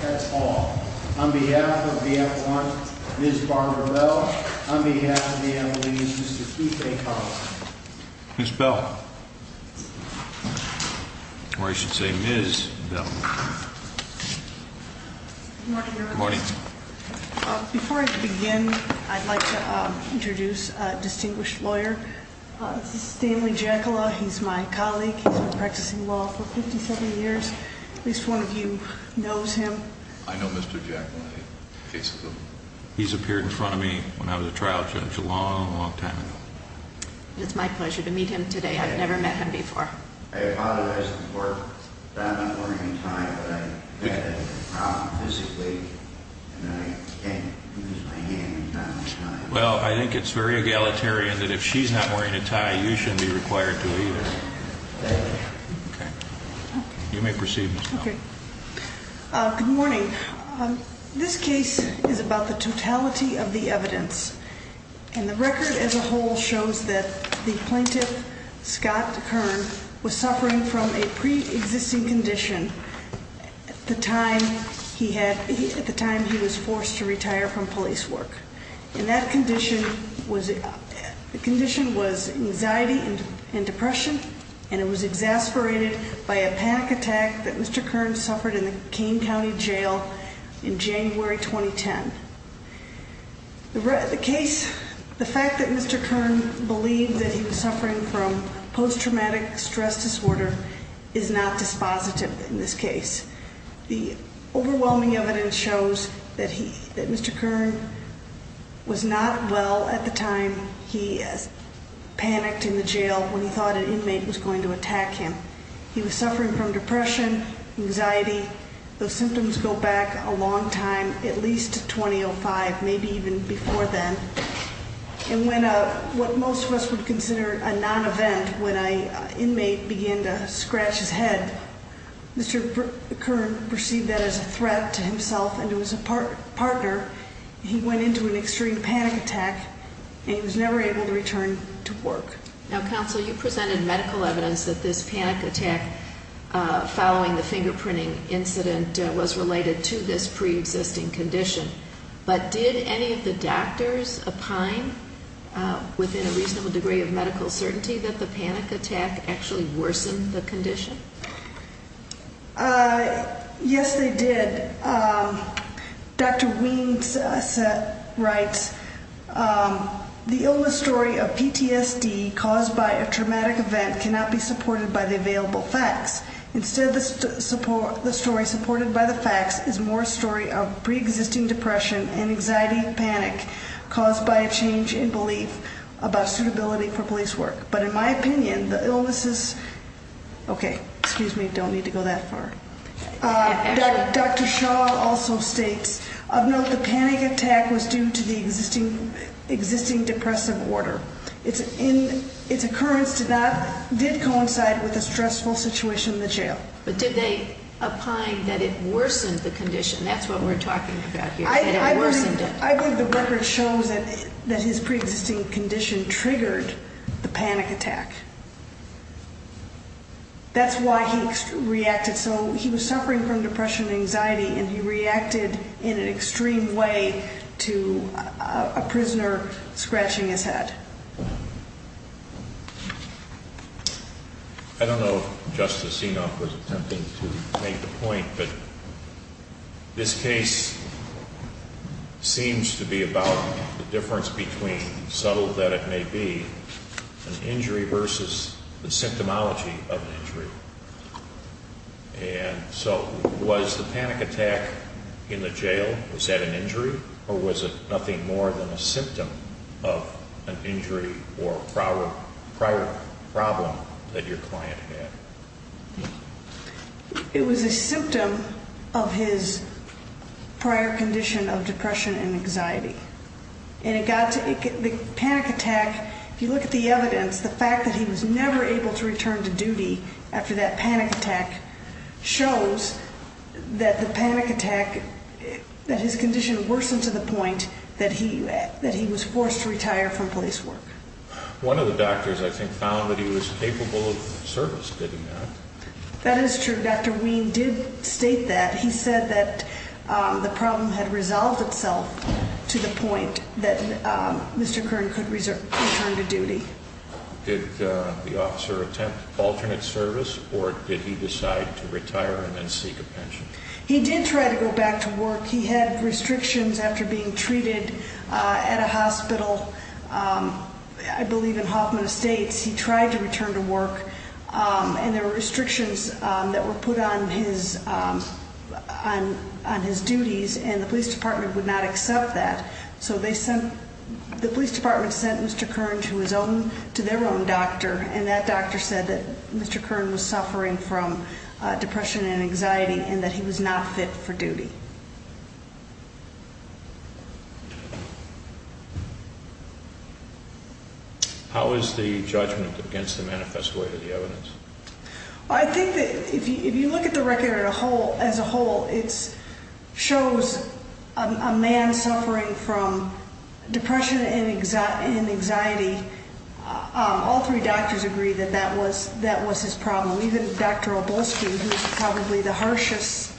That's all. On behalf of BF1, Ms. Barbara Bell, on behalf of the MLEs, Mr. Keith A. Collins. Ms. Bell. Or I should say Ms. Bell. Good morning. Before I begin, I'd like to introduce a distinguished lawyer. This is Stanley Jekylla. He's my colleague. He's been practicing law for 57 years. At least one of you knows him. I know Mr. Jekylla. He's appeared in front of me when I was a trial judge a long, long time ago. It's my pleasure to meet him today. I've never met him before. I apologize to the court that I'm not wearing a tie, but I've had a problem physically, and I can't use my hand. Well, I think it's very egalitarian that if she's not wearing a tie, you shouldn't be required to either. Thank you. Good morning. This case is about the totality of the evidence, and the record as a whole shows that the plaintiff, Scott Kern, was suffering from a pre-existing condition at the time he was forced to retire from police work. And that condition was anxiety and depression, and it was exasperated by a PAC attack that Mr. Kern suffered in the Kane County Jail in January 2010. The fact that Mr. Kern believed that he was suffering from post-traumatic stress disorder is not dispositive in this case. The overwhelming evidence shows that Mr. Kern was not well at the time he panicked in the jail when he thought an inmate was going to attack him. He was suffering from depression, anxiety. Those symptoms go back a long time, at least to 2005, maybe even before then. And when what most of us would consider a non-event, when an inmate began to scratch his head, Mr. Kern perceived that as a threat to himself and to his partner. He went into an extreme panic attack, and he was never able to return to work. Now, Counsel, you presented medical evidence that this panic attack following the fingerprinting incident was related to this pre-existing condition. But did any of the doctors opine within a reasonable degree of medical certainty that the panic attack actually worsened the condition? Yes, they did. Dr. Weems writes, the illness story of PTSD caused by a traumatic event cannot be supported by the available facts. Instead, the story supported by the facts is more a story of pre-existing depression and anxiety and panic caused by a change in belief about suitability for police work. But in my opinion, the illnesses, okay, excuse me, don't need to go that far. Dr. Shaw also states, of note, the panic attack was due to the existing depressive order. Its occurrence did coincide with a stressful situation in the jail. But did they opine that it worsened the condition? That's what we're talking about here, that it worsened it. I believe the record shows that his pre-existing condition triggered the panic attack. That's why he reacted. So he was suffering from depression and anxiety, and he reacted in an extreme way to a prisoner scratching his head. I don't know if Justice Enoff was attempting to make the point, but this case seems to be about the difference between, subtle that it may be, an injury versus the symptomology of an injury. And so was the panic attack in the jail, was that an injury? Or was it nothing more than a symptom of an injury or prior problem that your client had? It was a symptom of his prior condition of depression and anxiety. And the panic attack, if you look at the evidence, the fact that he was never able to return to duty after that panic attack, shows that the panic attack, that his condition worsened to the point that he was forced to retire from police work. One of the doctors, I think, found that he was capable of service, didn't he? That is true. Dr. Ween did state that. He said that the problem had resolved itself to the point that Mr. Kern could return to duty. Did the officer attempt alternate service, or did he decide to retire and then seek a pension? He did try to go back to work. He had restrictions after being treated at a hospital, I believe in Hoffman Estates. He tried to return to work, and there were restrictions that were put on his duties, and the police department would not accept that. So the police department sent Mr. Kern to their own doctor, and that doctor said that Mr. Kern was suffering from depression and anxiety and that he was not fit for duty. How is the judgment against the manifest way of the evidence? I think that if you look at the record as a whole, it shows a man suffering from depression and anxiety. All three doctors agree that that was his problem, even Dr. Oblosky, who is probably the harshest,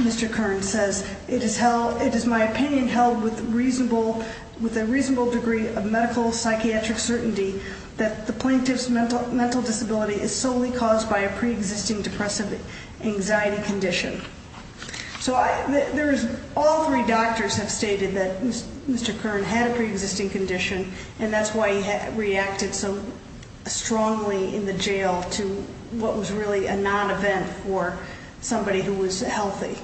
Mr. Kern says, it is my opinion held with a reasonable degree of medical psychiatric certainty that the plaintiff's mental disability is solely caused by a preexisting depressive anxiety condition. So all three doctors have stated that Mr. Kern had a preexisting condition, and that's why he reacted so strongly in the jail to what was really a non-event for somebody who was healthy.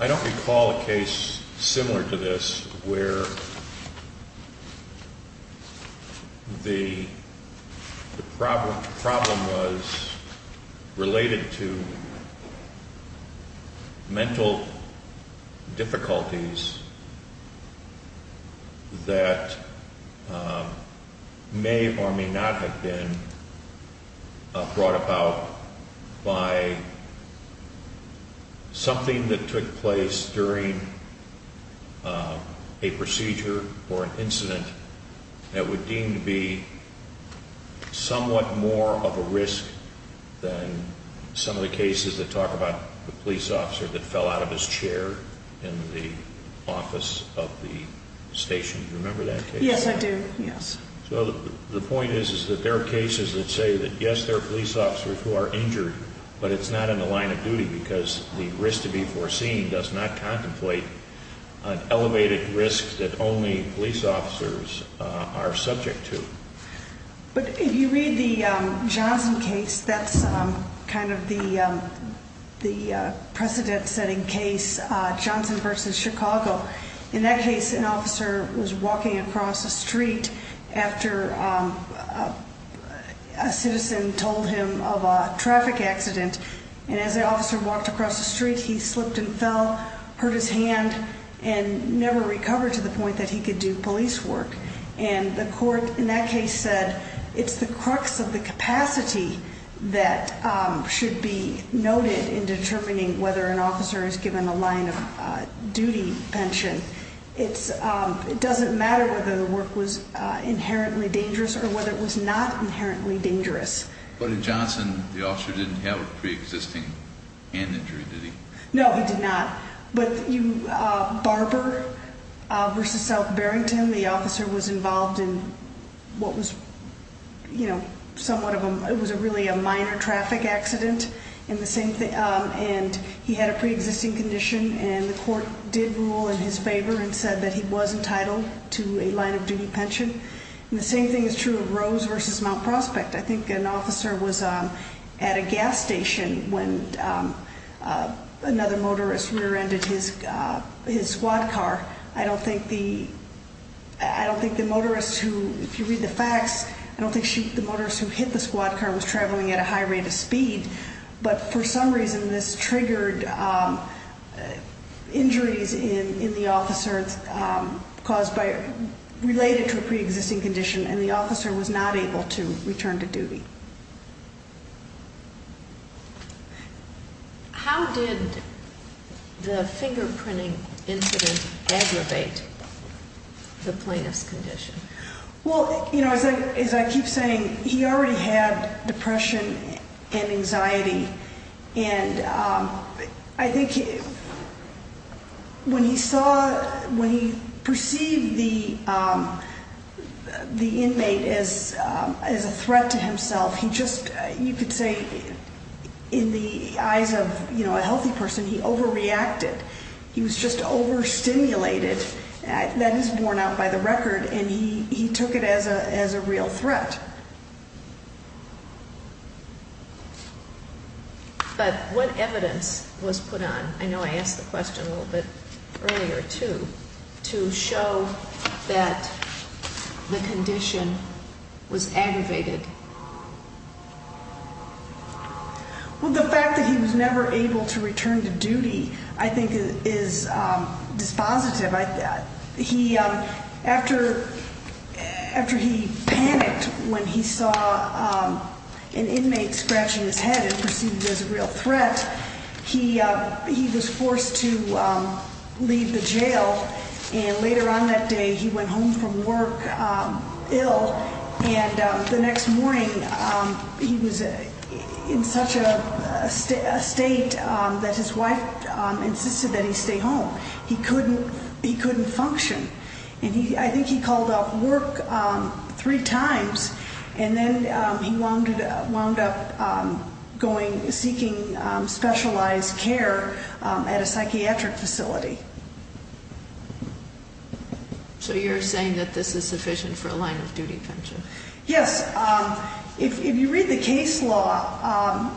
I don't recall a case similar to this, where the problem was related to mental difficulties that may or may not have been brought about by something that took place during a procedure or an incident that would deem to be somewhat more of a risk than some of the cases that talk about the police officer that fell out of his chair in the office of the station. Do you remember that case? Yes, I do, yes. So the point is that there are cases that say that yes, there are police officers who are injured, but it's not in the line of duty because the risk to be foreseen does not contemplate an elevated risk that only police officers are subject to. But if you read the Johnson case, that's kind of the precedent-setting case, Johnson v. Chicago. In that case, an officer was walking across a street after a citizen told him of a traffic accident, and as the officer walked across the street, he slipped and fell, hurt his hand, and never recovered to the point that he could do police work. And the court in that case said it's the crux of the capacity that should be noted in determining whether an officer is given a line of duty pension. It doesn't matter whether the work was inherently dangerous or whether it was not inherently dangerous. But in Johnson, the officer didn't have a preexisting hand injury, did he? No, he did not. But Barber v. South Barrington, the officer was involved in what was somewhat of a really minor traffic accident, and he had a preexisting condition, and the court did rule in his favor and said that he was entitled to a line of duty pension. And the same thing is true of Rose v. Mount Prospect. I think an officer was at a gas station when another motorist rear-ended his squad car. I don't think the motorist who, if you read the facts, I don't think the motorist who hit the squad car was traveling at a high rate of speed, but for some reason this triggered injuries in the officer related to a preexisting condition, and the officer was not able to return to duty. How did the fingerprinting incident aggravate the plaintiff's condition? Well, as I keep saying, he already had depression and anxiety, and I think when he saw, when he perceived the inmate as a threat to himself, he just, you could say in the eyes of a healthy person, he overreacted. He was just overstimulated. That is worn out by the record, and he took it as a real threat. But what evidence was put on, I know I asked the question a little bit earlier too, to show that the condition was aggravated? Well, the fact that he was never able to return to duty I think is dispositive. After he panicked when he saw an inmate scratching his head and perceived it as a real threat, he was forced to leave the jail, and later on that day he went home from work ill, and the next morning he was in such a state that his wife insisted that he stay home. He couldn't function, and I think he called off work three times, and then he wound up going, seeking specialized care at a psychiatric facility. So you're saying that this is sufficient for a line-of-duty pension? Yes. If you read the case law,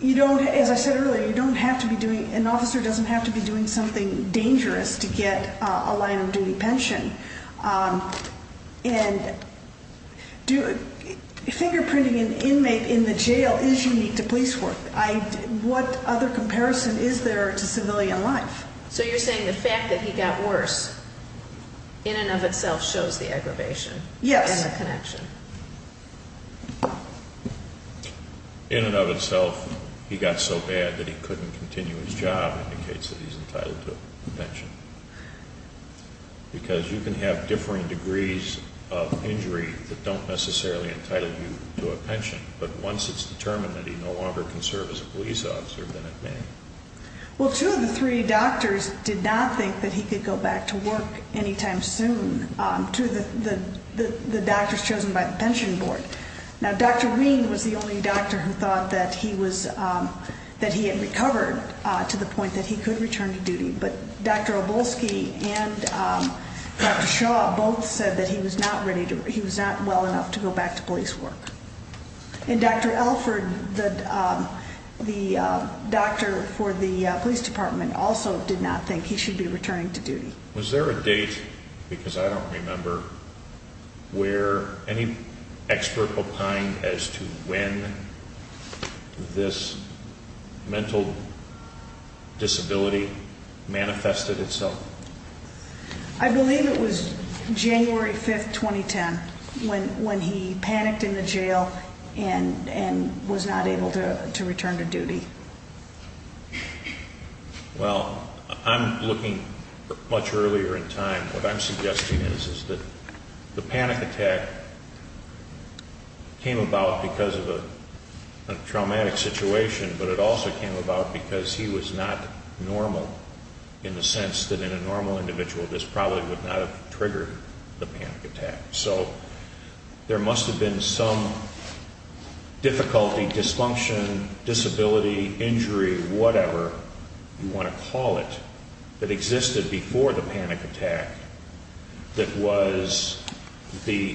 you don't, as I said earlier, you don't have to be doing, an officer doesn't have to be doing something dangerous to get a line-of-duty pension. And fingerprinting an inmate in the jail is unique to police work. What other comparison is there to civilian life? So you're saying the fact that he got worse in and of itself shows the aggravation? Yes. And the connection? In and of itself, he got so bad that he couldn't continue his job indicates that he's entitled to a pension. Because you can have differing degrees of injury that don't necessarily entitle you to a pension, but once it's determined that he no longer can serve as a police officer, then it may. Well, two of the three doctors did not think that he could go back to work anytime soon, the doctors chosen by the pension board. Now, Dr. Wien was the only doctor who thought that he had recovered to the point that he could return to duty, but Dr. Obolsky and Dr. Shaw both said that he was not well enough to go back to police work. And Dr. Alford, the doctor for the police department, also did not think he should be returning to duty. Was there a date, because I don't remember, where any expert opined as to when this mental disability manifested itself? I believe it was January 5, 2010, when he panicked in the jail and was not able to return to duty. Well, I'm looking much earlier in time. What I'm suggesting is that the panic attack came about because of a traumatic situation, but it also came about because he was not normal in the sense that in a normal individual, this probably would not have triggered the panic attack. So there must have been some difficulty, dysfunction, disability, injury, whatever you want to call it, that existed before the panic attack that was the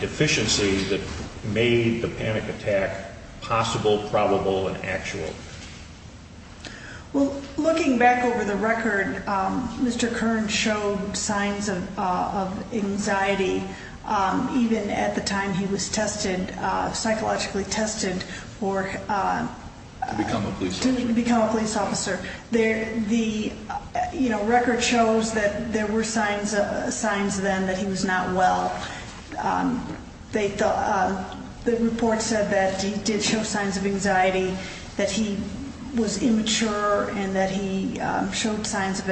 deficiency that made the panic attack possible, probable, and actual. Well, looking back over the record, Mr. Kern showed signs of anxiety, even at the time he was psychologically tested to become a police officer. The record shows that there were signs then that he was not well. The report said that he did show signs of anxiety, that he was immature, and that he showed signs of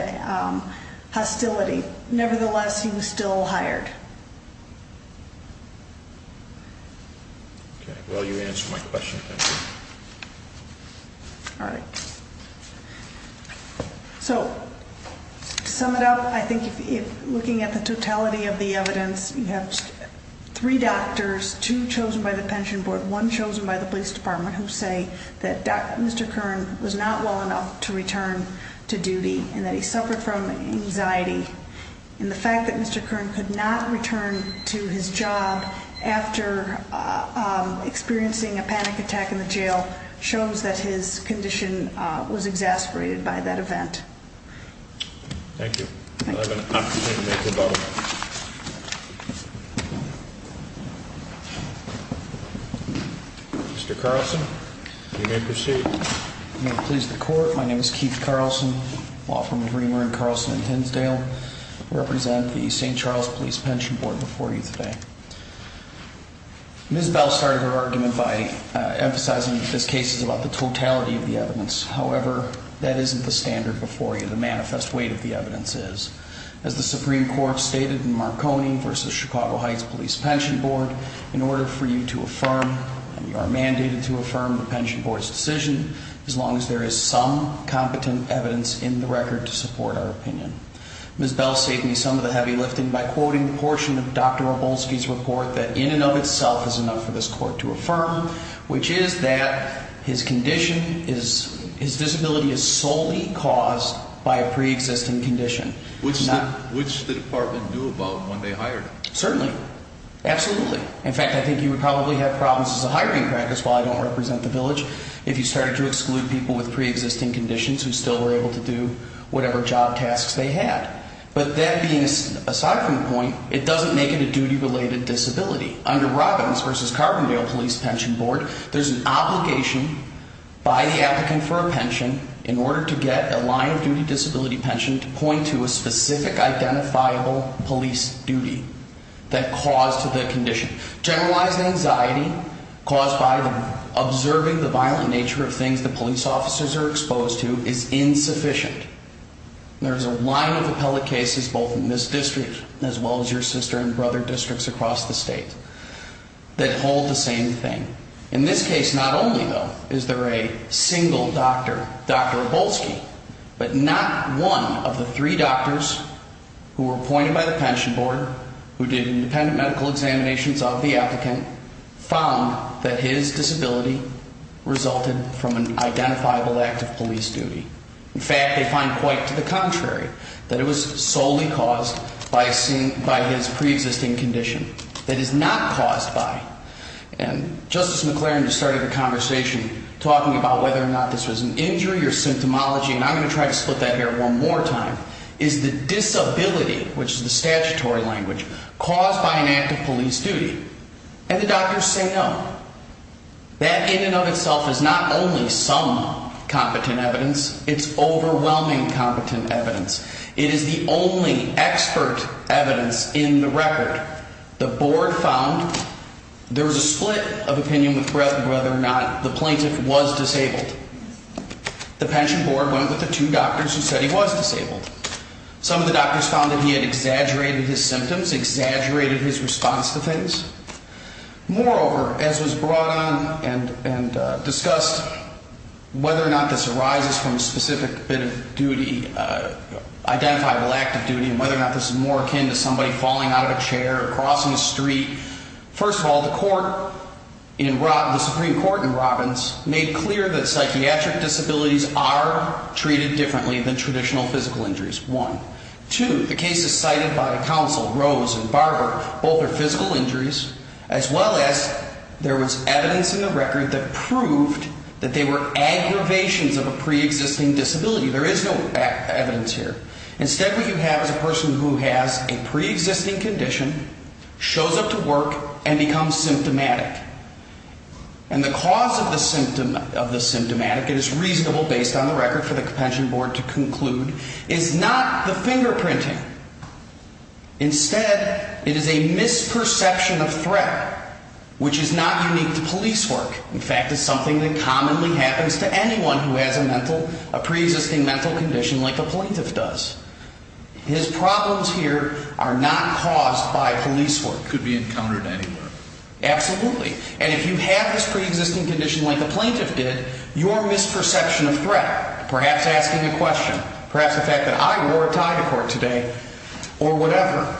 hostility. Nevertheless, he was still hired. Well, you answered my question. Thank you. All right. So to sum it up, I think looking at the totality of the evidence, you have three doctors, two chosen by the pension board, one chosen by the police department, who say that Mr. Kern was not well enough to return to duty and that he suffered from anxiety. And the fact that Mr. Kern could not return to his job after experiencing a panic attack in the jail shows that his condition was exasperated by that event. Thank you. I have an opportunity to make a vote. Mr. Carlson, you may proceed. May it please the court, my name is Keith Carlson, law firm of Reamer & Carlson in Tinsdale. I represent the St. Charles Police Pension Board before you today. Ms. Bell started her argument by emphasizing that this case is about the totality of the evidence. However, that isn't the standard before you. The manifest weight of the evidence is. As the Supreme Court stated in Marconi v. Chicago Heights Police Pension Board, in order for you to affirm, you are mandated to affirm the pension board's decision as long as there is some competent evidence in the record to support our opinion. Ms. Bell saved me some of the heavy lifting by quoting a portion of Dr. Wroblewski's report that in and of itself is enough for this court to affirm, which is that his condition, his disability is solely caused by a pre-existing condition. Which the department knew about when they hired him. Certainly. Absolutely. In fact, I think you would probably have problems as a hiring practice while I don't represent the village if you started to exclude people with pre-existing conditions who still were able to do whatever job tasks they had. But that being aside from the point, it doesn't make it a duty-related disability. Under Robbins v. Carbondale Police Pension Board, there's an obligation by the applicant for a pension in order to get a line-of-duty disability pension to point to a specific identifiable police duty that caused the condition. Generalized anxiety caused by observing the violent nature of things the police officers are exposed to is insufficient. There's a line of appellate cases both in this district as well as your sister and brother districts across the state that hold the same thing. In this case, not only though, is there a single doctor, Dr. Wroblewski, but not one of the three doctors who were appointed by the pension board, who did independent medical examinations of the applicant, found that his disability resulted from an identifiable act of police duty. In fact, they find quite to the contrary, that it was solely caused by his pre-existing condition. It is not caused by, and Justice McLaren just started the conversation talking about whether or not this was an injury or symptomology, and I'm going to try to split that here one more time, is the disability, which is the statutory language, caused by an act of police duty. And the doctors say no. That in and of itself is not only some competent evidence, it's overwhelming competent evidence. It is the only expert evidence in the record. The board found there was a split of opinion with whether or not the plaintiff was disabled. The pension board went with the two doctors who said he was disabled. Some of the doctors found that he had exaggerated his symptoms, exaggerated his response to things. Moreover, as was brought on and discussed, whether or not this arises from a specific bit of duty, identifiable act of duty, and whether or not this is more akin to somebody falling out of a chair or crossing the street. First of all, the Supreme Court in Robbins made clear that psychiatric disabilities are treated differently than traditional physical injuries, one. Two, the cases cited by counsel Rose and Barber, both are physical injuries, as well as there was evidence in the record that proved that they were aggravations of a pre-existing disability. There is no evidence here. Instead, what you have is a person who has a pre-existing condition, shows up to work, and becomes symptomatic. And the cause of the symptomatic, it is reasonable based on the record for the pension board to conclude, is not the fingerprinting. Instead, it is a misperception of threat, which is not unique to police work. In fact, it's something that commonly happens to anyone who has a pre-existing mental condition like a plaintiff does. His problems here are not caused by police work. Could be encountered anywhere. Absolutely. And if you have this pre-existing condition like a plaintiff did, your misperception of threat, perhaps asking a question, perhaps the fact that I wore a tie to court today, or whatever,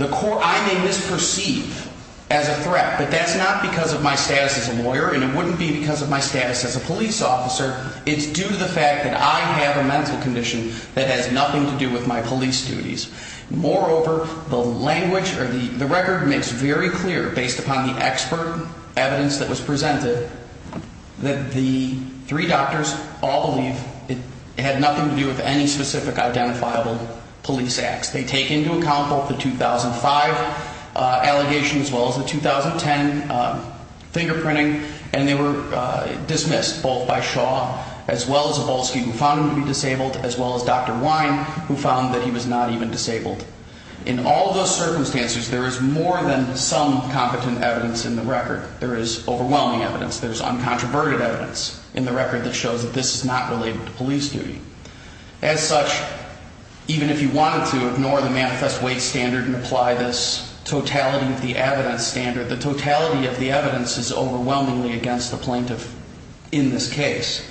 I may misperceive as a threat, but that's not because of my status as a lawyer, and it wouldn't be because of my status as a police officer. It's due to the fact that I have a mental condition that has nothing to do with my police duties. Moreover, the record makes very clear, based upon the expert evidence that was presented, that the three doctors all believe it had nothing to do with any specific identifiable police acts. They take into account both the 2005 allegation as well as the 2010 fingerprinting, and they were dismissed, both by Shaw, as well as Wolski, who found him to be disabled, as well as Dr. Wine, who found that he was not even disabled. In all those circumstances, there is more than some competent evidence in the record. There is overwhelming evidence. There is uncontroverted evidence in the record that shows that this is not related to police duty. As such, even if you wanted to ignore the manifest weight standard and apply this totality of the evidence standard, the totality of the evidence is overwhelmingly against the plaintiff in this case.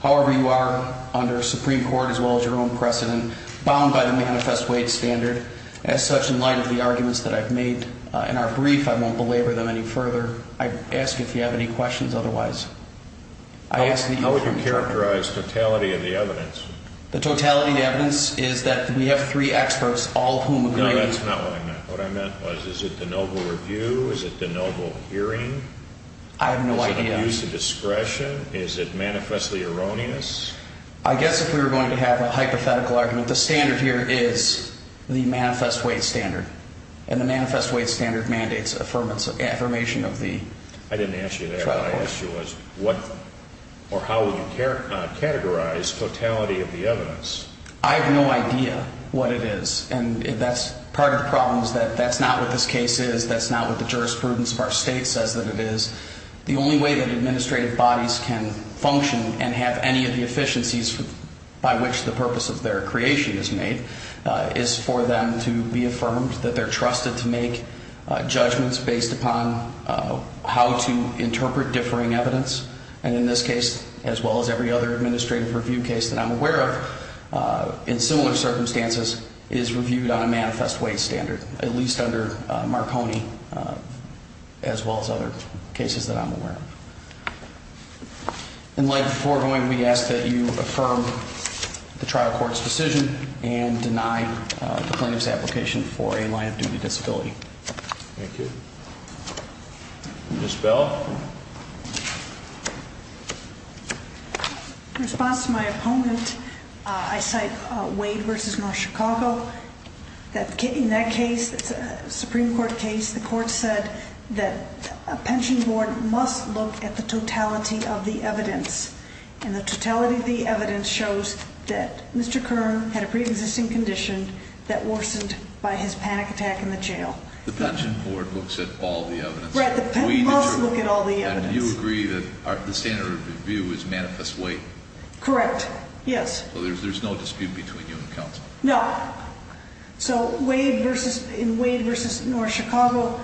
However, you are, under Supreme Court as well as your own precedent, bound by the manifest weight standard. As such, in light of the arguments that I've made in our brief, I won't belabor them any further. I ask if you have any questions otherwise. I would characterize totality of the evidence. The totality of the evidence is that we have three experts, all of whom agree. No, that's not what I meant. What I meant was, is it the noble review? Is it the noble hearing? I have no idea. Is it abuse of discretion? Is it manifestly erroneous? I guess if we were going to have a hypothetical argument, the standard here is the manifest weight standard, and the manifest weight standard mandates affirmation of the trial court. I didn't ask you that. What I asked you was what or how would you categorize totality of the evidence? I have no idea what it is. And that's part of the problem is that that's not what this case is. That's not what the jurisprudence of our state says that it is. The only way that administrative bodies can function and have any of the efficiencies by which the purpose of their creation is made is for them to be affirmed, that they're trusted to make judgments based upon how to interpret differing evidence. And in this case, as well as every other administrative review case that I'm aware of, in similar circumstances, it is reviewed on a manifest weight standard, at least under Marconi as well as other cases that I'm aware of. In light of the foregoing, we ask that you affirm the trial court's decision and deny the plaintiff's application for a line of duty disability. Thank you. Ms. Bell? In response to my opponent, I cite Wade v. North Chicago. In that case, it's a Supreme Court case. The court said that a pension board must look at the totality of the evidence. And the totality of the evidence shows that Mr. Kern had a preexisting condition that worsened by his panic attack in the jail. The pension board looks at all the evidence? Right, the pen must look at all the evidence. And you agree that the standard of review is manifest weight? Correct, yes. So there's no dispute between you and counsel? No. So in Wade v. North Chicago,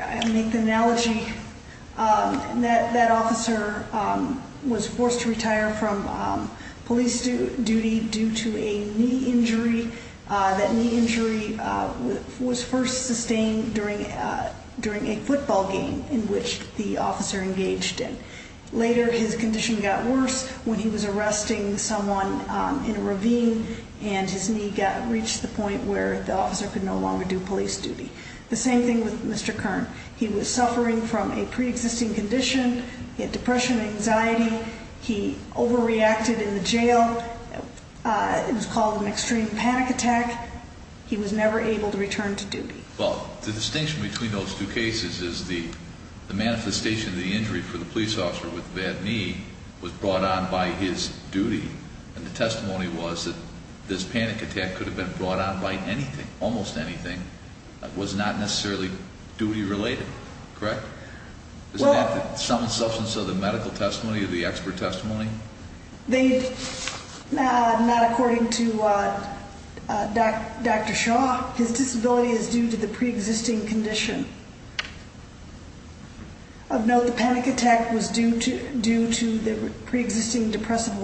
I'll make the analogy. That officer was forced to retire from police duty due to a knee injury. That knee injury was first sustained during a football game in which the officer engaged in. Later, his condition got worse when he was arresting someone in a ravine and his knee reached the point where the officer could no longer do police duty. The same thing with Mr. Kern. He was suffering from a preexisting condition. He had depression and anxiety. He overreacted in the jail. It was called an extreme panic attack. He was never able to return to duty. Well, the distinction between those two cases is the manifestation of the injury for the police officer with the bad knee was brought on by his duty, and the testimony was that this panic attack could have been brought on by anything, almost anything. It was not necessarily duty-related, correct? Is that the sum and substance of the medical testimony or the expert testimony? Not according to Dr. Shaw. His disability is due to the preexisting condition. Of note, the panic attack was due to the preexisting depressive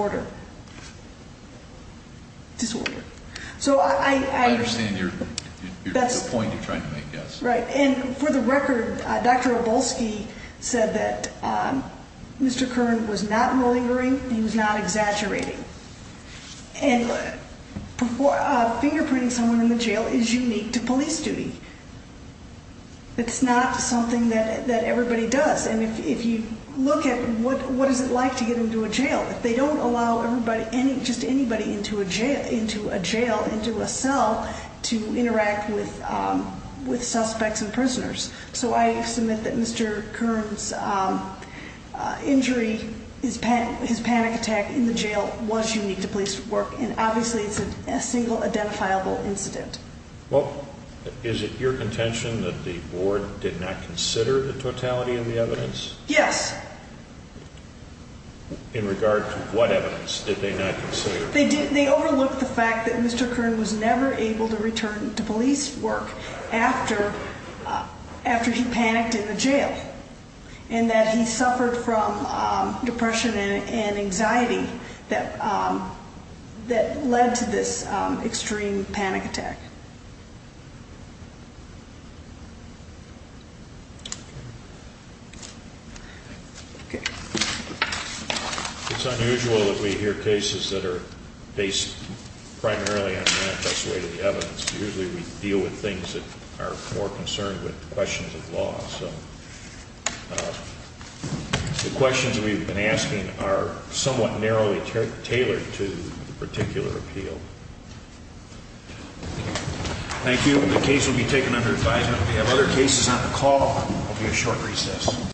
disorder. I understand the point you're trying to make, yes. Right, and for the record, Dr. Obolsky said that Mr. Kern was not malingering. He was not exaggerating. Fingerprinting someone in the jail is unique to police duty. It's not something that everybody does, and if you look at what is it like to get into a jail, they don't allow just anybody into a jail, into a cell, to interact with suspects and prisoners. So I submit that Mr. Kern's injury, his panic attack in the jail, was unique to police work, and obviously it's a single identifiable incident. Well, is it your contention that the board did not consider the totality of the evidence? Yes. In regard to what evidence did they not consider? They overlooked the fact that Mr. Kern was never able to return to police work after he panicked in the jail and that he suffered from depression and anxiety that led to this extreme panic attack. Okay. It's unusual that we hear cases that are based primarily on manifest way to the evidence. Usually we deal with things that are more concerned with questions of law. So the questions we've been asking are somewhat narrowly tailored to the particular appeal. Thank you. The case will be taken under advisement. If we have other cases on the call, there will be a short recess.